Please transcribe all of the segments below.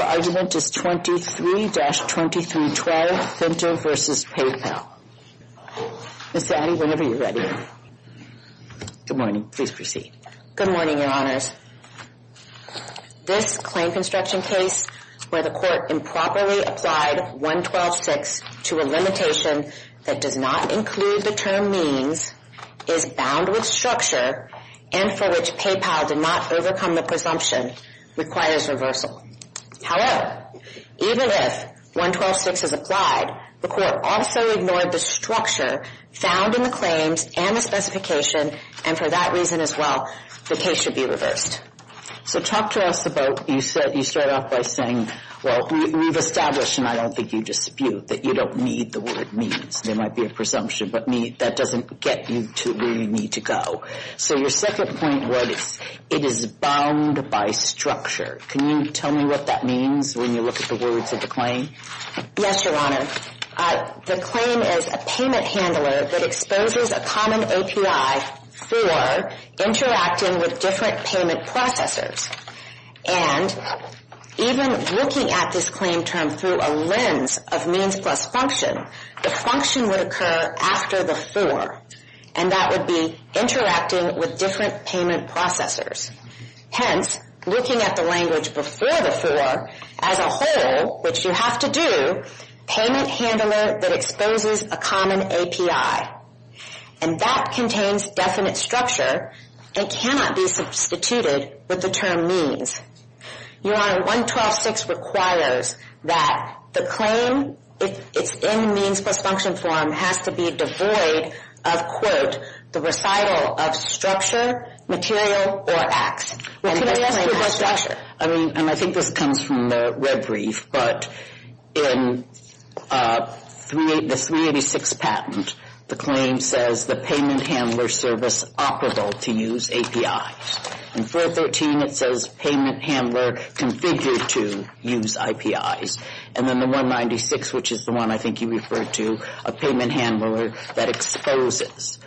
Your argument is 23-2312, Fintiv, Inc. v. PayPal. Ms. Addy, whenever you're ready. Good morning. Please proceed. Good morning, Your Honors. This claim construction case where the court improperly applied 112-6 to a limitation that does not include the term means, is bound with structure, and for which PayPal did not overcome the presumption, requires reversal. However, even if 112-6 is applied, the court also ignored the structure found in the claims and the specification, and for that reason as well, the case should be reversed. So talk to us about, you start off by saying, well, we've established, and I don't think you dispute, that you don't need the word means. There might be a presumption, but that doesn't get you to where you need to go. So your second point was, it is bound by structure. Can you tell me what that means when you look at the words of the claim? Yes, Your Honor. The claim is a payment handler that exposes a common OPI for interacting with different payment processors, and even looking at this claim term through a lens of means plus function, the function would occur after the for, and that would be interacting with different payment processors. Hence, looking at the language before the for, as a whole, which you have to do, payment handler that exposes a common API, and that contains definite structure, it cannot be substituted with the term means. Your Honor, 112-6 requires that the claim, if it's in means plus function form, has to be devoid of, quote, the recital of structure, material, or acts, and the claim has structure. And I think this comes from the red brief, but in the 386 patent, the claim says the payment handler service operable to use APIs, and 413, it says payment handler configured to use IPIs, and then the 196, which is the one I think you referred to, a payment handler that exposes.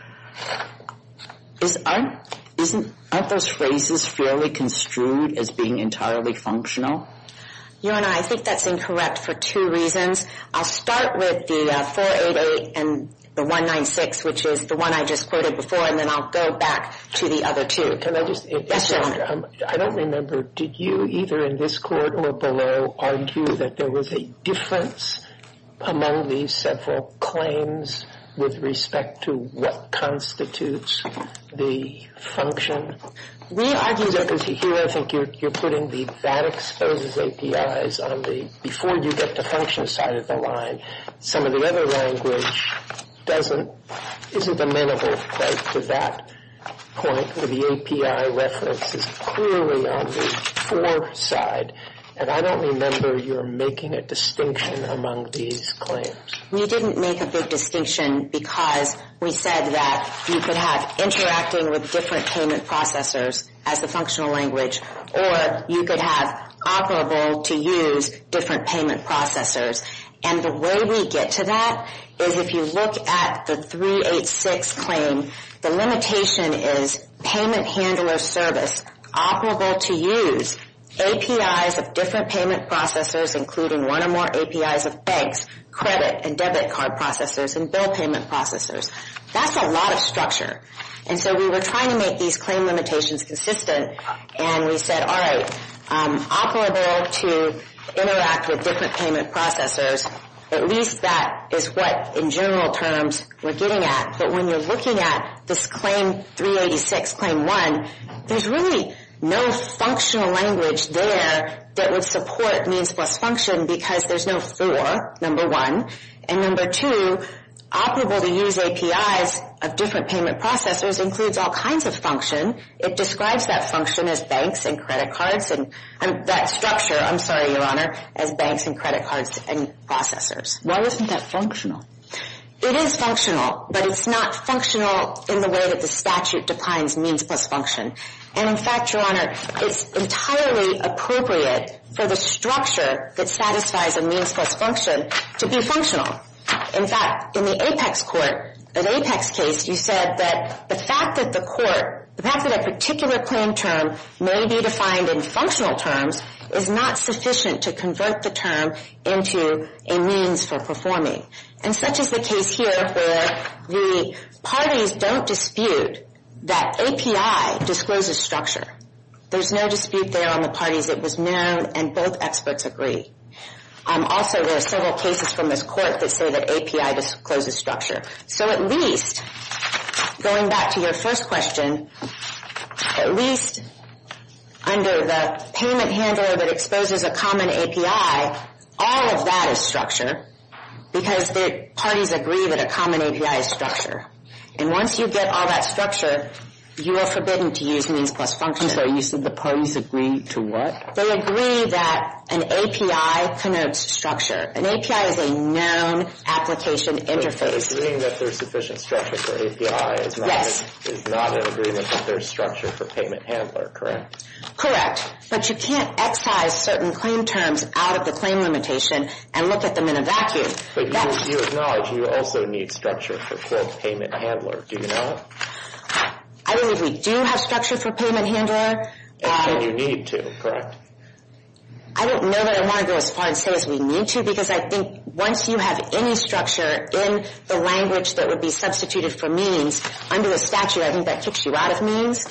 Isn't, aren't those phrases fairly construed as being entirely functional? Your Honor, I think that's incorrect for two reasons. I'll start with the 488 and the 196, which is the one I just quoted before, and then I'll go back to the other two. Can I just, I don't remember, did you, either in this court or below, argue that there was a difference among these several claims with respect to what constitutes the function? We argued that, because here I think you're putting the, that exposes APIs on the, before you get to function side of the line, some of the other language doesn't, isn't amenable quite to that point, where the API reference is clearly on the for side, and I don't remember whether you're making a distinction among these claims. We didn't make a big distinction because we said that you could have interacting with different payment processors as the functional language, or you could have operable to use different payment processors, and the way we get to that is if you look at the 386 claim, the limitation is payment handler service, operable to use, APIs of different payment processors, including one or more APIs of banks, credit, and debit card processors, and bill payment processors. That's a lot of structure, and so we were trying to make these claim limitations consistent, and we said, all right, operable to interact with different payment processors, at least that is what, in general terms, we're getting at, but when you're looking at this claim 386 claim one, there's really no functional language there that would support means plus function because there's no for, number one, and number two, operable to use APIs of different payment processors includes all kinds of function. It describes that function as banks and credit cards, and that structure, I'm sorry, Your Honor, as banks and credit cards and processors. Why isn't that functional? It is functional, but it's not functional in the way that the statute defines means plus function, and in fact, Your Honor, it's entirely appropriate for the structure that satisfies a means plus function to be functional. In fact, in the Apex court, the Apex case, you said that the fact that the court, the fact that a particular claim term may be defined in functional terms is not sufficient to convert the term into a means for performing. And such is the case here where the parties don't dispute that API discloses structure. There's no dispute there on the parties. It was known, and both experts agree. Also, there are several cases from this court that say that API discloses structure. So at least, going back to your first question, at least under the payment handler that exposes a common API, all of that is structure because the parties agree that a common API is structure. And once you get all that structure, you are forbidden to use means plus function. So you said the parties agree to what? They agree that an API converts structure. An API is a known application interface. So agreeing that there's sufficient structure for API is not an agreement that there's structure for payment handler, correct? Correct. But you can't excise certain claim terms out of the claim limitation and look at them in a vacuum. But you acknowledge you also need structure for payment handler. Do you know that? I believe we do have structure for payment handler. And you need to, correct? I don't know that I want to go as far and say as we need to because I think once you have any structure in the language that would be substituted for means under the statute, I think that kicks you out of means.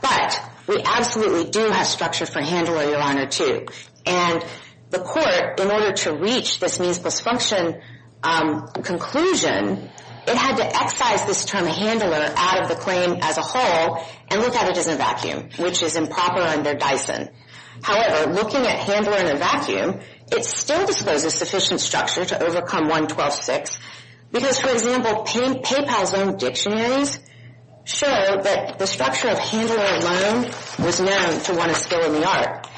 But we absolutely do have structure for handler, Your Honor, too. And the court, in order to reach this means plus function conclusion, it had to excise this term handler out of the claim as a whole and look at it as a vacuum, which is improper under Dyson. However, looking at handler in a vacuum, it still discloses sufficient structure to overcome 112.6 because, for example, PayPal's own dictionaries show that the structure of handler alone was known to want to steal in the art.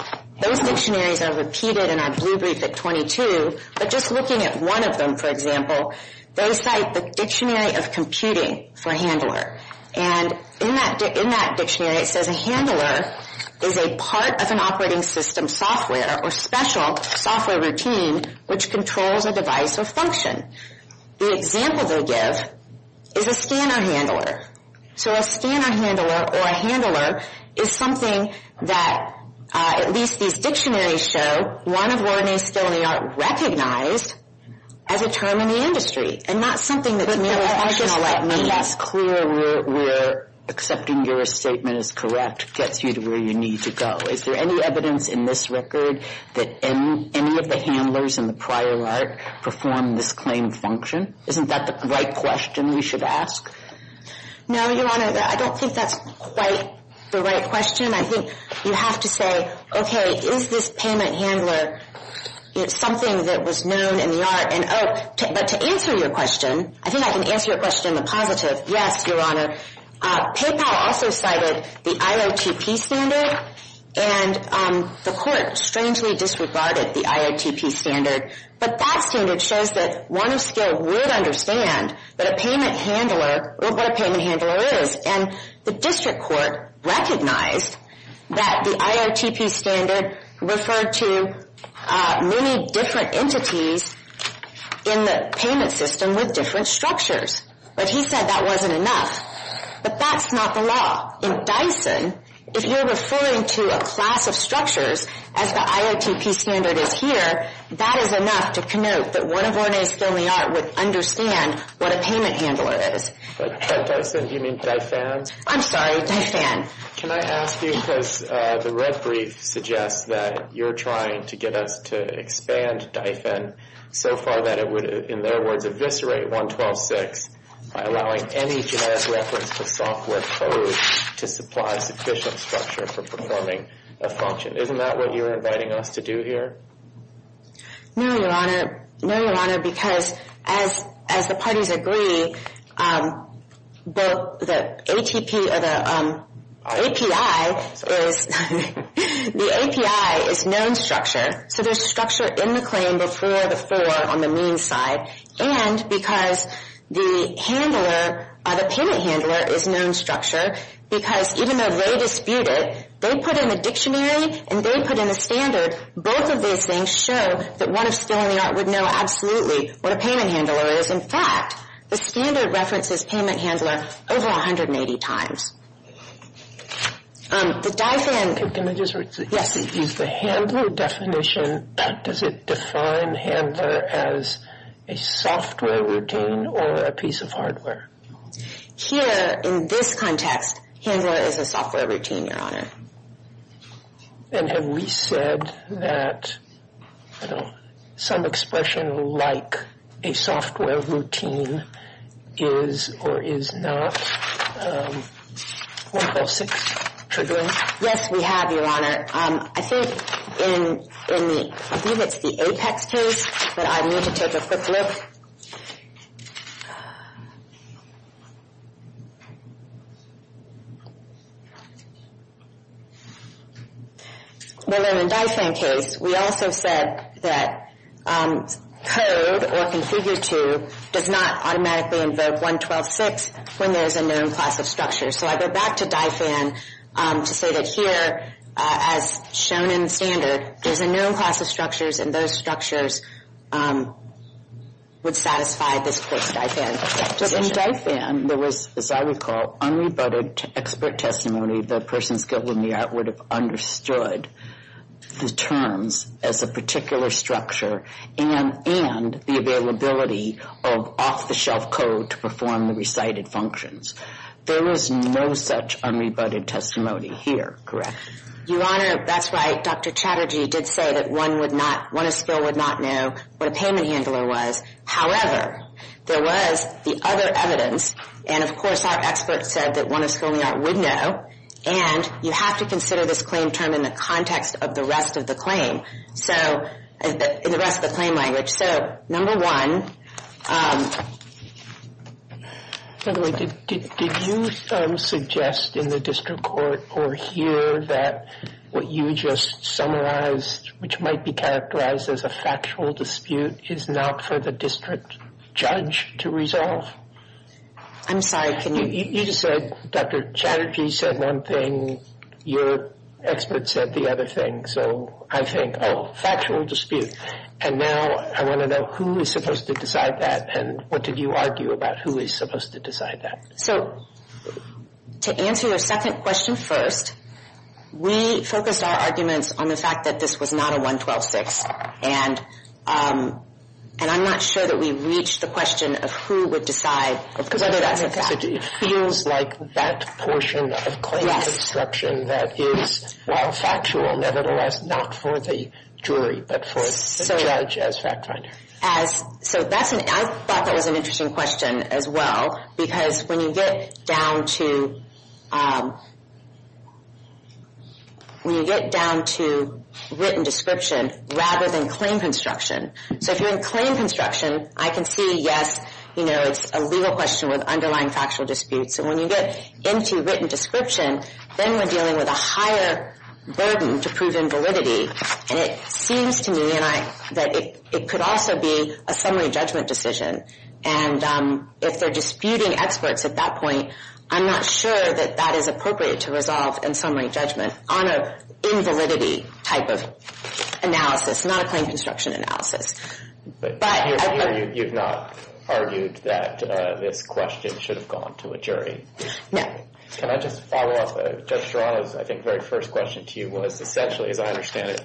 Those dictionaries are repeated in our blue brief at 22, but just looking at one of them, for example, they cite the dictionary of computing for handler. And in that dictionary, it says a handler is a part of an operating system software or special software routine which controls a device or function. The example they give is a scanner handler. So a scanner handler or a handler is something that at least these dictionaries show, one of where it may steal in the art recognized as a term in the industry and not something that's made with functional like means. I just want to be less clear where accepting your statement is correct gets you to where you need to go. Is there any evidence in this record that any of the handlers in the prior art performed this claim function? Isn't that the right question we should ask? No, Your Honor, I don't think that's quite the right question. I think you have to say, okay, is this payment handler something that was known in the art? And oh, but to answer your question, I think I can answer your question in the positive. Yes, Your Honor. PayPal also cited the IOTP standard. And the court strangely disregarded the IOTP standard. But that standard shows that one of scale would understand that a payment handler, what a payment handler is. And the district court recognized that the IOTP standard referred to many different entities in the payment system with different structures. But he said that wasn't enough. But that's not the law. In Dyson, if you're referring to a class of structures, as the IOTP standard is here, that is enough to connote that one of Orne's filming art would understand what a payment handler is. By Dyson, do you mean DyFan? I'm sorry, DyFan. Can I ask you, because the red brief suggests that you're trying to get us to expand DyFan so far that it would, in their words, eviscerate 112.6 by allowing any genetic reference to software code to supply sufficient structure for performing a function. Isn't that what you're inviting us to do here? No, Your Honor. No, Your Honor, because as the parties agree, both the ATP or the API is, the API is known structure. So there's structure in the claim before the four on the mean side. And because the handler, the payment handler is known structure, because even though they dispute it, they put in a dictionary and they put in a standard, both of those things show that one of still in the art would know absolutely what a payment handler is. In fact, the standard references payment handler over 180 times. The DyFan... Can I just... Yes. Is the handler definition, does it define handler as a software routine or a piece of hardware? Here, in this context, handler is a software routine, Your Honor. And have we said that, you know, some expression like a software routine is or is not 106 triggering? Yes, we have, Your Honor. I think in the, I believe it's the Apex case, but I need to take a quick look. Well then, in DyFan case, we also said that code or configure to does not automatically invoke 112.6 when there's a known class of structure. So I go back to DyFan to say that here, as shown in standard, there's a known class of structures and those structures would satisfy this court's DyFan definition. In DyFan, there was, as I recall, unrebutted expert testimony that a person skilled in the art would have understood the terms as a particular structure and the availability of off-the-shelf code to perform the recited functions. There was no such unrebutted testimony here, correct? Your Honor, that's right. Dr. Chatterjee did say that one would not, one of skill would not know what a payment handler was. However, there was the other evidence and, of course, our expert said that one of skill in the art would know and you have to consider this claim term in the context of the rest of the claim. So, in the rest of the claim language. So, number one... By the way, did you suggest in the district court or here that what you just summarized, which might be characterized as a factual dispute, is not for the district judge to resolve? I'm sorry, can you... You just said Dr. Chatterjee said one thing, your expert said the other thing. So, I think, oh, factual dispute. And now, I want to know who is supposed to decide that and what did you argue about who is supposed to decide that? So, to answer your second question first, we focused our arguments on the fact that this was not a 112-6. And I'm not sure that we reached the question of who would decide whether that's a fact. It feels like that portion of claim construction that is, while factual, nevertheless, not for the jury, but for the judge as fact finder. So, I thought that was an interesting question as well, because when you get down to... When you get down to written description, rather than claim construction. So, if you're in claim construction, I can see, yes, it's a legal question with underlying factual disputes. And when you get into written description, then we're dealing with a higher burden to prove invalidity. And it seems to me that it could also be a summary judgment decision. And if they're disputing experts at that point, I'm not sure that that is appropriate to resolve in summary judgment on an invalidity type of analysis, not a claim construction analysis. But... Here, you've not argued that this question should have gone to a jury. No. Can I just follow up? Judge Serrano's, I think, very first question to you was essentially, as I understand it,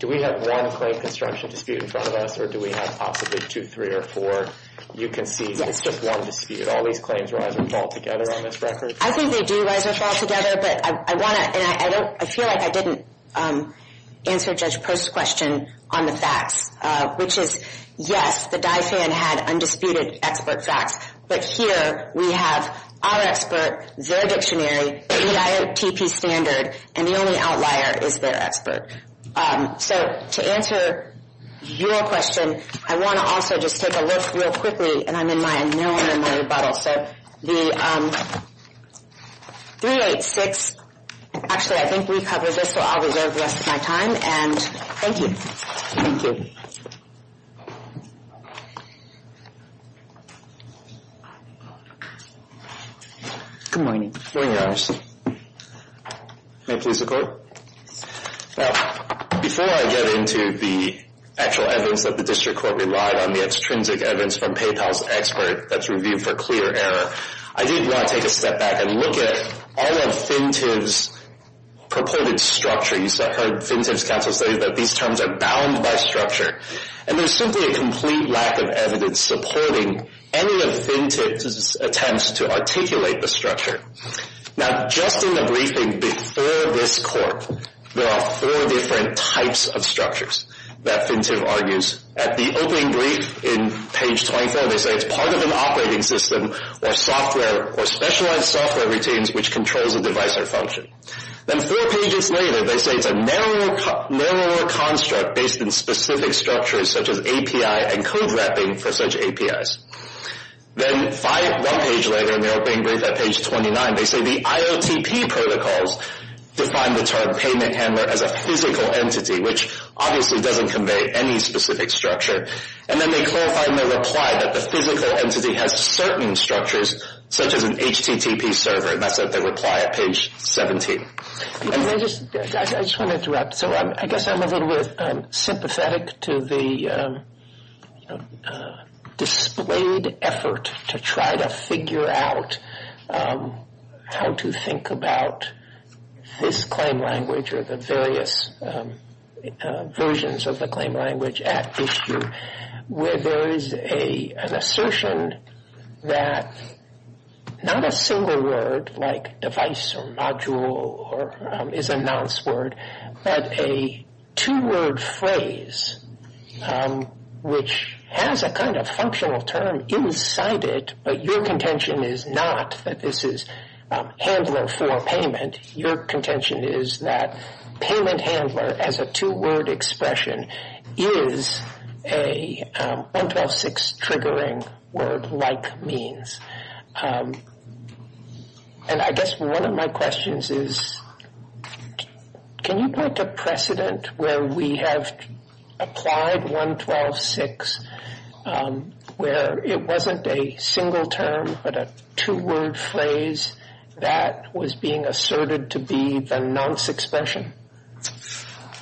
do we have one claim construction dispute in front of us or do we have possibly two, three, or four? You can see it's just one dispute. All these claims rise or fall together on this record? I think they do rise or fall together, but I feel like I didn't answer Judge Post's question on the facts, which is, yes, the DAEFAN had undisputed expert facts. But here, we have our expert, their dictionary, the IOTP standard, and the only outlier is their expert. So, to answer your question, I want to also just take a look real quickly, and I'm in my unknown in my rebuttal. The 386 actually, I think, recovers this, so I'll reserve the rest of my time. And thank you. Thank you. Good morning. Good morning, Your Honor. May it please the Court? Before I get into the actual evidence that the district court relied on, and the extrinsic evidence from PayPal's expert that's reviewed for clear error, I did want to take a step back and look at all of FinTIV's purported structures. I've heard FinTIV's counsel say that these terms are bound by structure, and there's simply a complete lack of evidence supporting any of FinTIV's attempts to articulate the structure. Now, just in the briefing before this Court, there are four different types of structures that FinTIV argues. At the opening brief in page 24, they say it's part of an operating system or specialized software routines which controls a device or function. Then four pages later, they say it's a narrower construct based in specific structures such as API and code wrapping for such APIs. Then one page later, in the opening brief at page 29, they say the IOTP protocols define the term payment handler as a physical entity, which obviously doesn't convey any specific structure. And then they clarify in their reply that the physical entity has certain structures such as an HTTP server, and that's at their reply at page 17. I just want to interrupt. So I guess I'm a little bit sympathetic to the displayed effort to try to figure out how to think about this claim language or the various versions of the claim language at issue where there is an assertion that not a single word like device or module is a nonce word, but a two-word phrase which has a kind of functional term inside it, but your contention is not that this is handler for payment. Your contention is that payment handler as a two-word expression is a 112.6 triggering word-like means. And I guess one of my questions is, can you point to precedent where we have applied 112.6 where it wasn't a single term but a two-word phrase that was being asserted to be the nonce expression?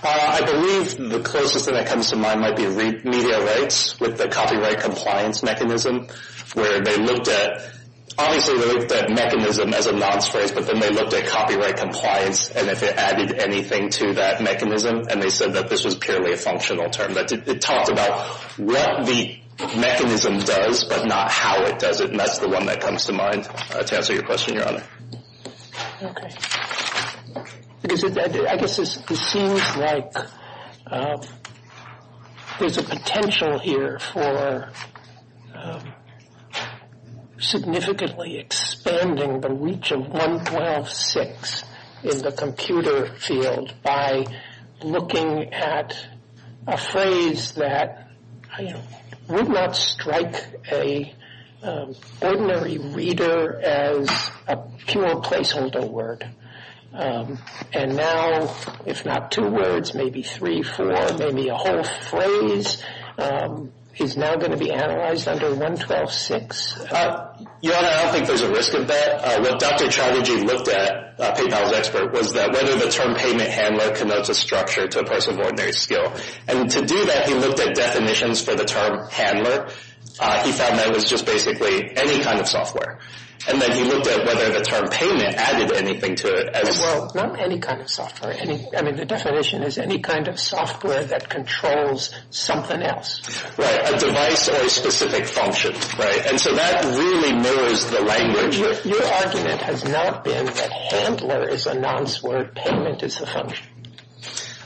I believe the closest thing that comes to mind might be media rights with the copyright compliance mechanism where they looked at... Obviously they looked at mechanism as a nonce phrase, but then they looked at copyright compliance and if it added anything to that mechanism, and they said that this was purely a functional term. But it talks about what the mechanism does but not how it does it, and that's the one that comes to mind to answer your question, Your Honor. Okay. I guess it seems like there's a potential here for significantly expanding the reach of 112.6 in the computer field by looking at a phrase that would not strike an ordinary reader as a pure placeholder word. And now, if not two words, maybe three, four, maybe a whole phrase is now going to be analyzed under 112.6. Your Honor, I don't think there's a risk of that. What Dr. Chatterjee looked at, a PayPals expert, was whether the term payment handler connotes a structure to a person's ordinary skill. And to do that, he looked at definitions for the term handler. He found that was just basically any kind of software. And then he looked at whether the term payment added anything to it. Well, not any kind of software. I mean, the definition is any kind of software that controls something else. Right, a device or a specific function, right? And so that really mirrors the language. Your argument has not been that handler is a nonce word, payment is a function.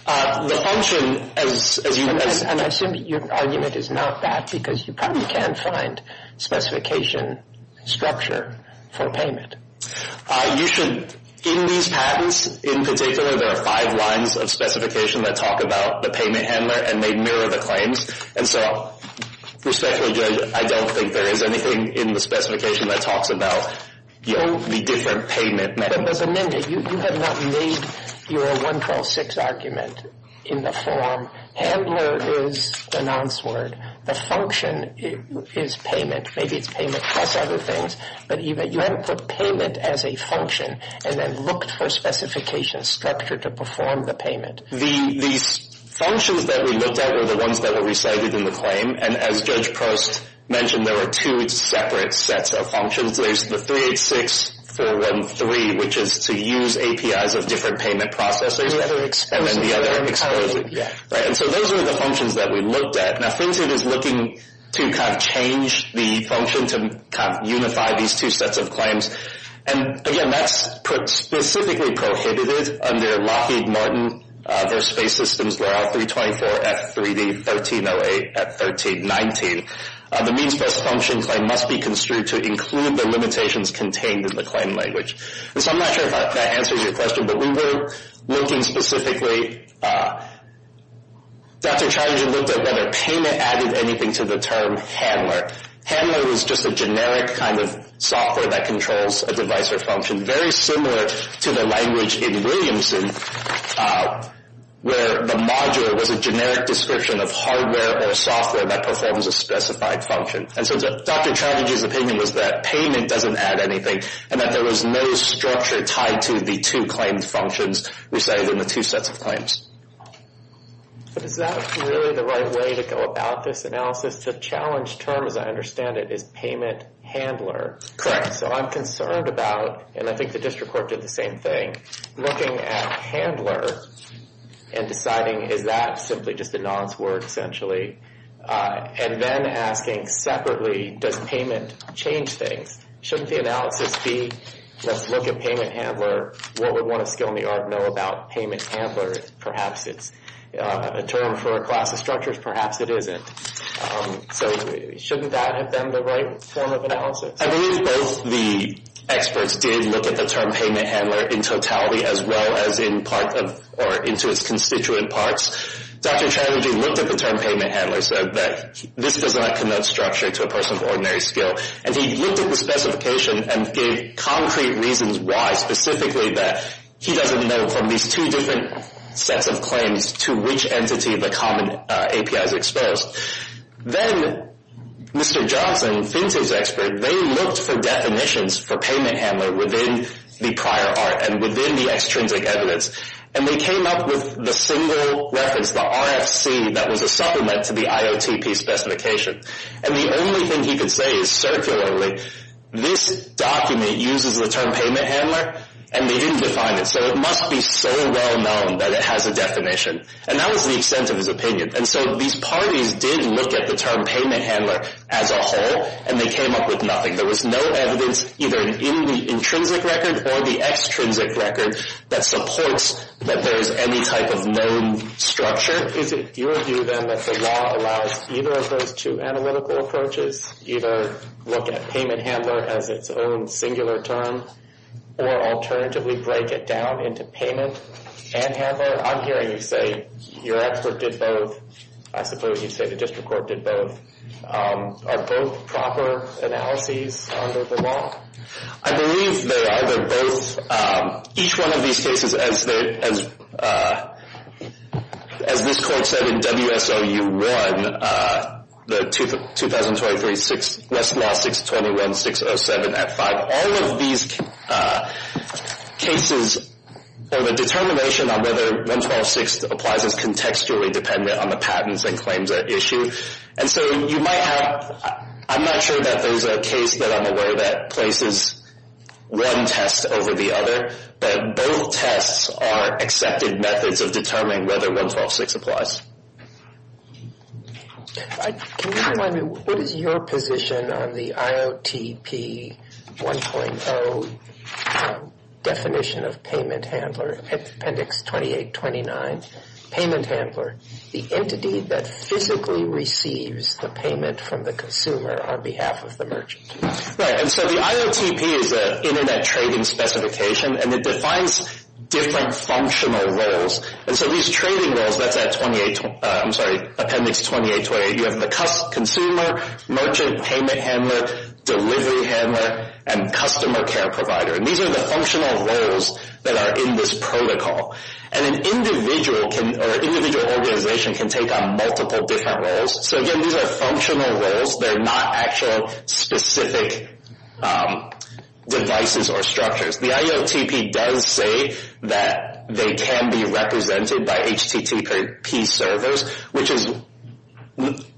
The function, as you... And I assume your argument is not that, because you probably can't find specification structure for payment. You should... In these patents, in particular, there are five lines of specification that talk about the payment handler, and they mirror the claims. And so, respectfully, Judge, I don't think there is anything in the specification that talks about the different payment methods. But as amended, you have not made your 112-6 argument in the form handler is a nonce word, the function is payment, maybe it's payment plus other things, but you haven't put payment as a function and then looked for specification structure to perform the payment. The functions that we looked at were the ones that were recited in the claim, and as Judge Prost mentioned, there were two separate sets of functions. There's the 386-413, which is to use APIs of different payment processors, and then the other exposes it. And so those are the functions that we looked at. Now, FinCET is looking to kind of change the function to kind of unify these two sets of claims. And, again, that's put specifically prohibited under Lockheed Martin. Their space systems were L324, F3D 1308, F1319. The means-based function claim must be construed to include the limitations contained in the claim language. And so I'm not sure if that answers your question, but we were looking specifically... Dr. Chatterjee looked at whether payment added anything to the term handler. Handler is just a generic kind of software that controls a device or function, very similar to the language in Williamson, where the module was a generic description of hardware or software that performs a specified function. And so Dr. Chatterjee's opinion was that payment doesn't add anything, and that there was no structure tied to the two claimed functions resided in the two sets of claims. But is that really the right way to go about this analysis? The challenge term, as I understand it, is payment handler. Correct. So I'm concerned about, and I think the district court did the same thing, looking at handler and deciding, is that simply just a nonce word, essentially? And then asking separately, does payment change things? Shouldn't the analysis be, let's look at payment handler, what would one of skill in the art know about payment handler? Perhaps it's a term for a class of structures, perhaps it isn't. So shouldn't that have been the right form of analysis? I believe both the experts did look at the term payment handler in totality, as well as into its constituent parts. Dr. Chatterjee looked at the term payment handler, so that this does not connote structure to a person of ordinary skill. And he looked at the specification and gave concrete reasons why, specifically that he doesn't know from these two different sets of claims to which entity the common API is exposed. Then Mr. Johnson, Finto's expert, they looked for definitions for payment handler within the prior art and within the extrinsic evidence. And they came up with the single reference, the RFC, that was a supplement to the IOTP specification. And the only thing he could say is circularly, this document uses the term payment handler, and they didn't define it. So it must be so well known that it has a definition. And that was the extent of his opinion. And so these parties did look at the term payment handler as a whole, and they came up with nothing. There was no evidence, either in the intrinsic record or the extrinsic record, that supports that there is any type of known structure. Is it your view, then, that the law allows either of those two analytical approaches, either look at payment handler as its own singular term, or alternatively break it down into payment and handler? I'm hearing you say your expert did both. I suppose you'd say the district court did both. Are both proper analyses under the law? I believe they're either both. Each one of these cases, as this court said in WSOU 1, the 2023 Westlaw 621-607 Act 5, all of these cases have a determination on whether 112.6 applies as contextually dependent on the patents and claims at issue. And so you might have... I'm not sure that there's a case that I'm aware that places one test over the other, but both tests are accepted methods of determining whether 112.6 applies. Can you remind me, what is your position on the IOTP 1.0 definition of payment handler, Appendix 2829, payment handler, the entity that physically receives the payment from the consumer on behalf of the merchant? Right, and so the IOTP is an internet trading specification, and it defines different functional roles. And so these trading roles, that's at 28... I'm sorry, Appendix 2828. You have the consumer, merchant, payment handler, delivery handler, and customer care provider. And these are the functional roles that are in this protocol. And an individual can, or an individual organization can take on multiple different roles. So again, these are functional roles. They're not actual specific devices or structures. The IOTP does say that they can be represented by HTTP servers, which is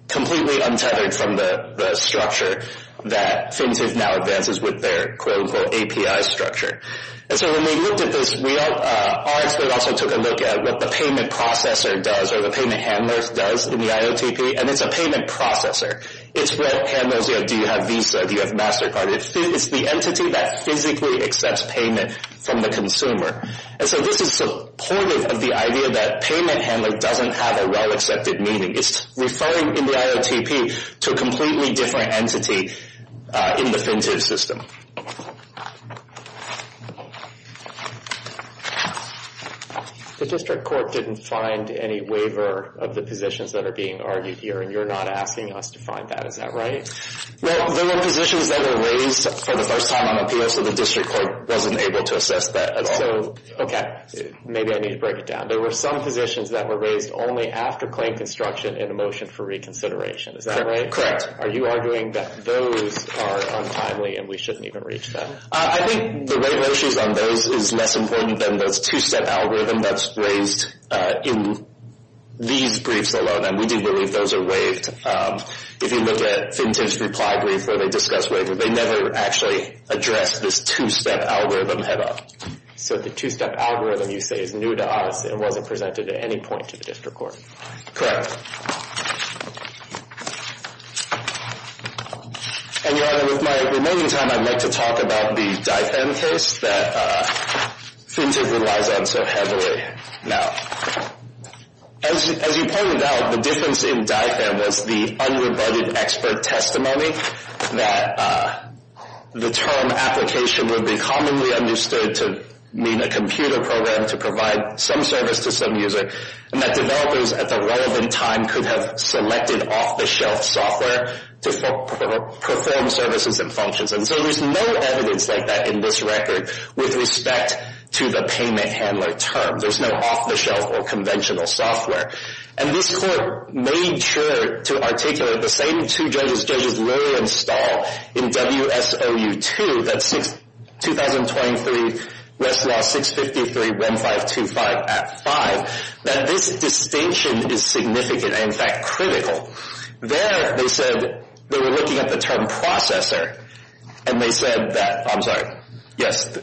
completely untethered from the structure that FinTech now advances with their quote-unquote API structure. And so when we looked at this, our expert also took a look at what the payment processor does, or the payment handler does in the IOTP, and it's a payment processor. It's what handles, you know, do you have Visa, do you have MasterCard? It's the entity that physically accepts payment from the consumer. And so this is supportive of the idea that payment handler doesn't have a well-accepted meaning. It's referring in the IOTP to a completely different entity in the FinTech system. The district court didn't find any waiver of the positions that are being argued here, and you're not asking us to find that. Is that right? Well, there were positions that were raised for the first time on the PO, so the district court wasn't able to assess that at all. Okay, maybe I need to break it down. There were some positions that were raised only after claim construction in a motion for reconsideration. Is that right? Correct. Are you arguing that those are untimely and we shouldn't even reach them? I think the waiver issues on those is less important than those two-step algorithm that's raised in these briefs alone, and we do believe those are waived. If you look at FinTech's reply brief, where they discuss waiver, they never actually address this two-step algorithm at all. So the two-step algorithm, you say, is new to us and wasn't presented at any point to the district court. Correct. And, Your Honor, with my remaining time, I'd like to talk about the DIFM case that FinTech relies on so heavily. Now, as you pointed out, the difference in DIFM was the unrebutted expert testimony that the term application would be commonly understood to mean a computer program to provide some service to some user and that developers at the relevant time could have selected off-the-shelf software to perform services and functions. And so there's no evidence like that in this record with respect to the payment handler term. There's no off-the-shelf or conventional software. And this court made sure to articulate the same two judges, judges Lurie and Stahl, in WSOU2, that's 2023 Westlaw 653-1525 Act 5, that this distinction is significant and, in fact, critical. There, they said they were looking at the term processor and they said that, I'm sorry, yes,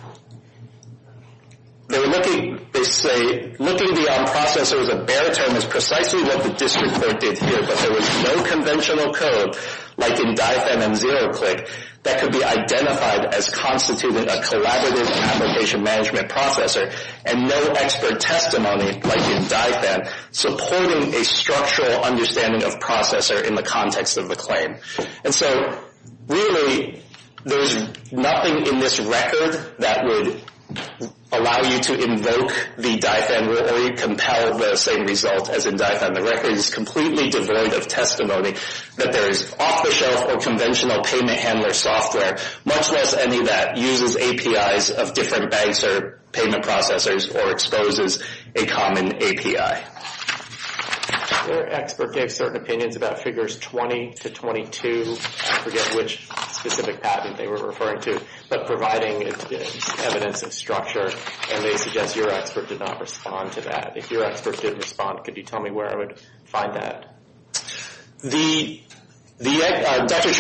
they were looking, they say, looking beyond processor as a bare term is precisely what the district court did here, but there was no conventional code, like in DIFM and ZeroClick, that could be identified as constituting a collaborative application management processor and no expert testimony, like in DIFM, supporting a structural understanding of processor in the context of the claim. And so, really, there's nothing in this record that would allow you to invoke the DIFM or compel the same result as in DIFM. The record is completely devoid of testimony that there is off-the-shelf or conventional payment handler software, much less any that uses APIs of different banks or payment processors or exposes a common API. Your expert gave certain opinions about figures 20 to 22, I forget which specific patent they were referring to, but providing evidence of structure, and they suggest your expert did not respond to that. If your expert did respond, could you tell me where I would find that? The, Dr.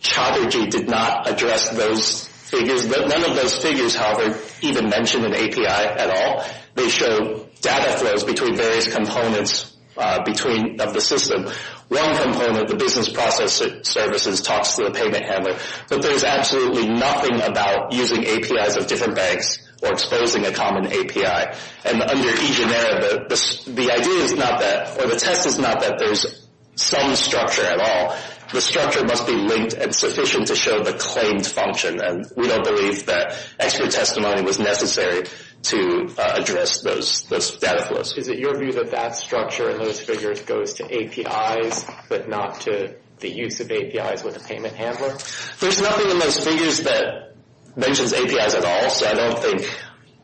Chatterjee did not address those figures. None of those figures, however, even mention an API at all. They show data flows between various components of the system. One component, the business process services, talks to the payment handler, but there's absolutely nothing about using APIs of different banks or exposing a common API. And under eGeneric, the idea is not that, or the test is not that there's some structure at all. The structure must be linked and sufficient to show the claimed function, and we don't believe that expert testimony was necessary to address those data flows. Is it your view that that structure and those figures goes to APIs, but not to the use of APIs with a payment handler? There's nothing in those figures that mentions APIs at all, so I don't think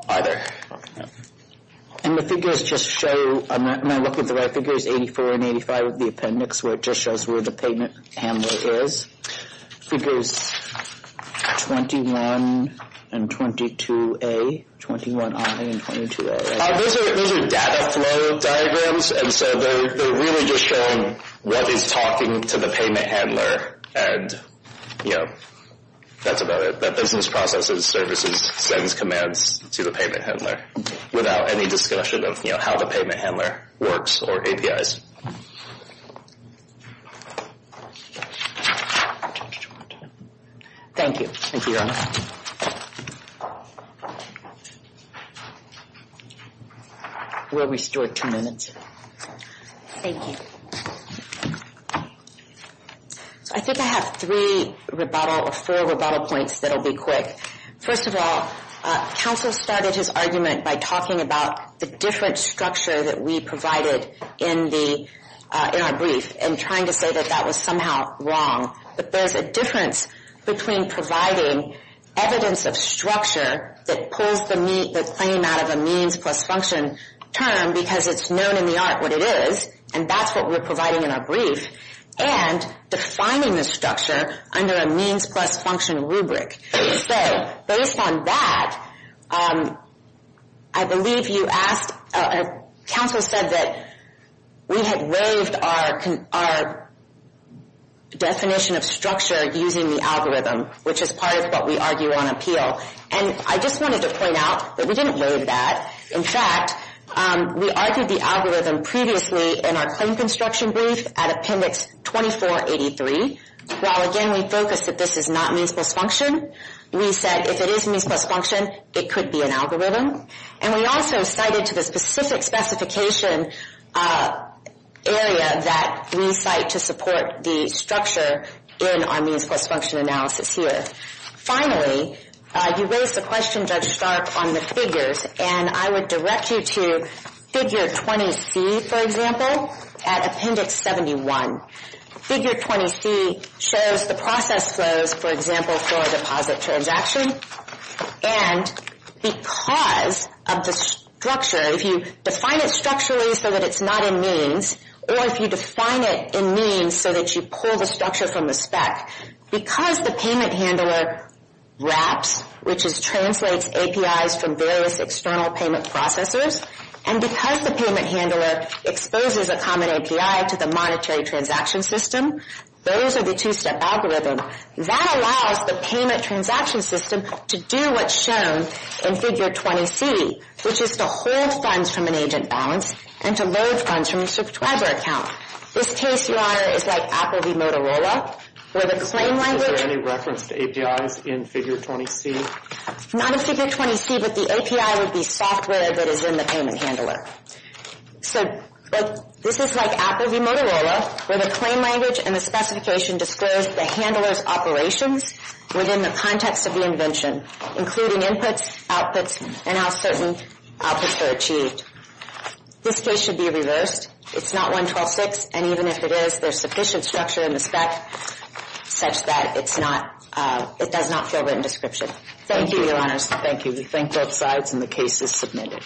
either. And the figures just show, am I looking at the right figures, 84 and 85 of the appendix, where it just shows where the payment handler is? Figures 21 and 22A, 21I and 22A. Those are data flow diagrams, and so they're really just showing what is talking to the payment handler, and, you know, that's about it. That business processes services sends commands to the payment handler without any discussion of, you know, how the payment handler works or APIs. Thank you. Thank you, Your Honor. We'll restore two minutes. Thank you. I think I have three rebuttal or four rebuttal points that'll be quick. First of all, counsel started his argument by talking about the different structure that we provided in the, in our brief, and trying to say that that was somehow wrong. But there's a difference between providing evidence of structure that pulls the claim out of a means plus function term because it's known in the art what it is, and that's what we're providing in our brief, and defining the structure under a means plus function rubric. So, based on that, I believe you asked, counsel said that we had waived our definition of structure using the algorithm, which is part of what we argue on appeal. And I just wanted to point out that we didn't waive that. In fact, we argued the algorithm previously in our claim construction brief at Appendix 2483. While, again, we focused that this is not means plus function, we said if it is means plus function, it could be an algorithm. And we also cited to the specific specification area that we cite to support the structure in our means plus function analysis here. Finally, you raised the question, Judge Stark, on the figures, and I would direct you to Figure 20C, for example, at Appendix 71. Figure 20C shows the process flows, for example, for a deposit transaction, and because of the structure, if you define it structurally so that it's not in means, or if you define it in means so that you pull the structure from the spec, because the payment handler wraps, which translates APIs from various external payment processors, and because the payment handler exposes a common API to the monetary transaction system, those are the two-step algorithm. That allows the payment transaction system to do what's shown in Figure 20C, which is to hold funds from an agent balance and to load funds from a subscriber account. This case, Your Honor, is like Apple v. Motorola, where the claim language Is there any reference to APIs in Figure 20C? Not in Figure 20C, but the API would be software that is in the payment handler. So, this is like Apple v. Motorola, where the claim language and the specification disclose the handler's operations within the context of the invention, including inputs, outputs, and how certain outputs are achieved. This case should be reviewed first. It's not 112.6, and even if it is, there's sufficient structure in the spec such that it does not fill written description. Thank you, Your Honors. Thank you. We thank both sides, and the case is submitted.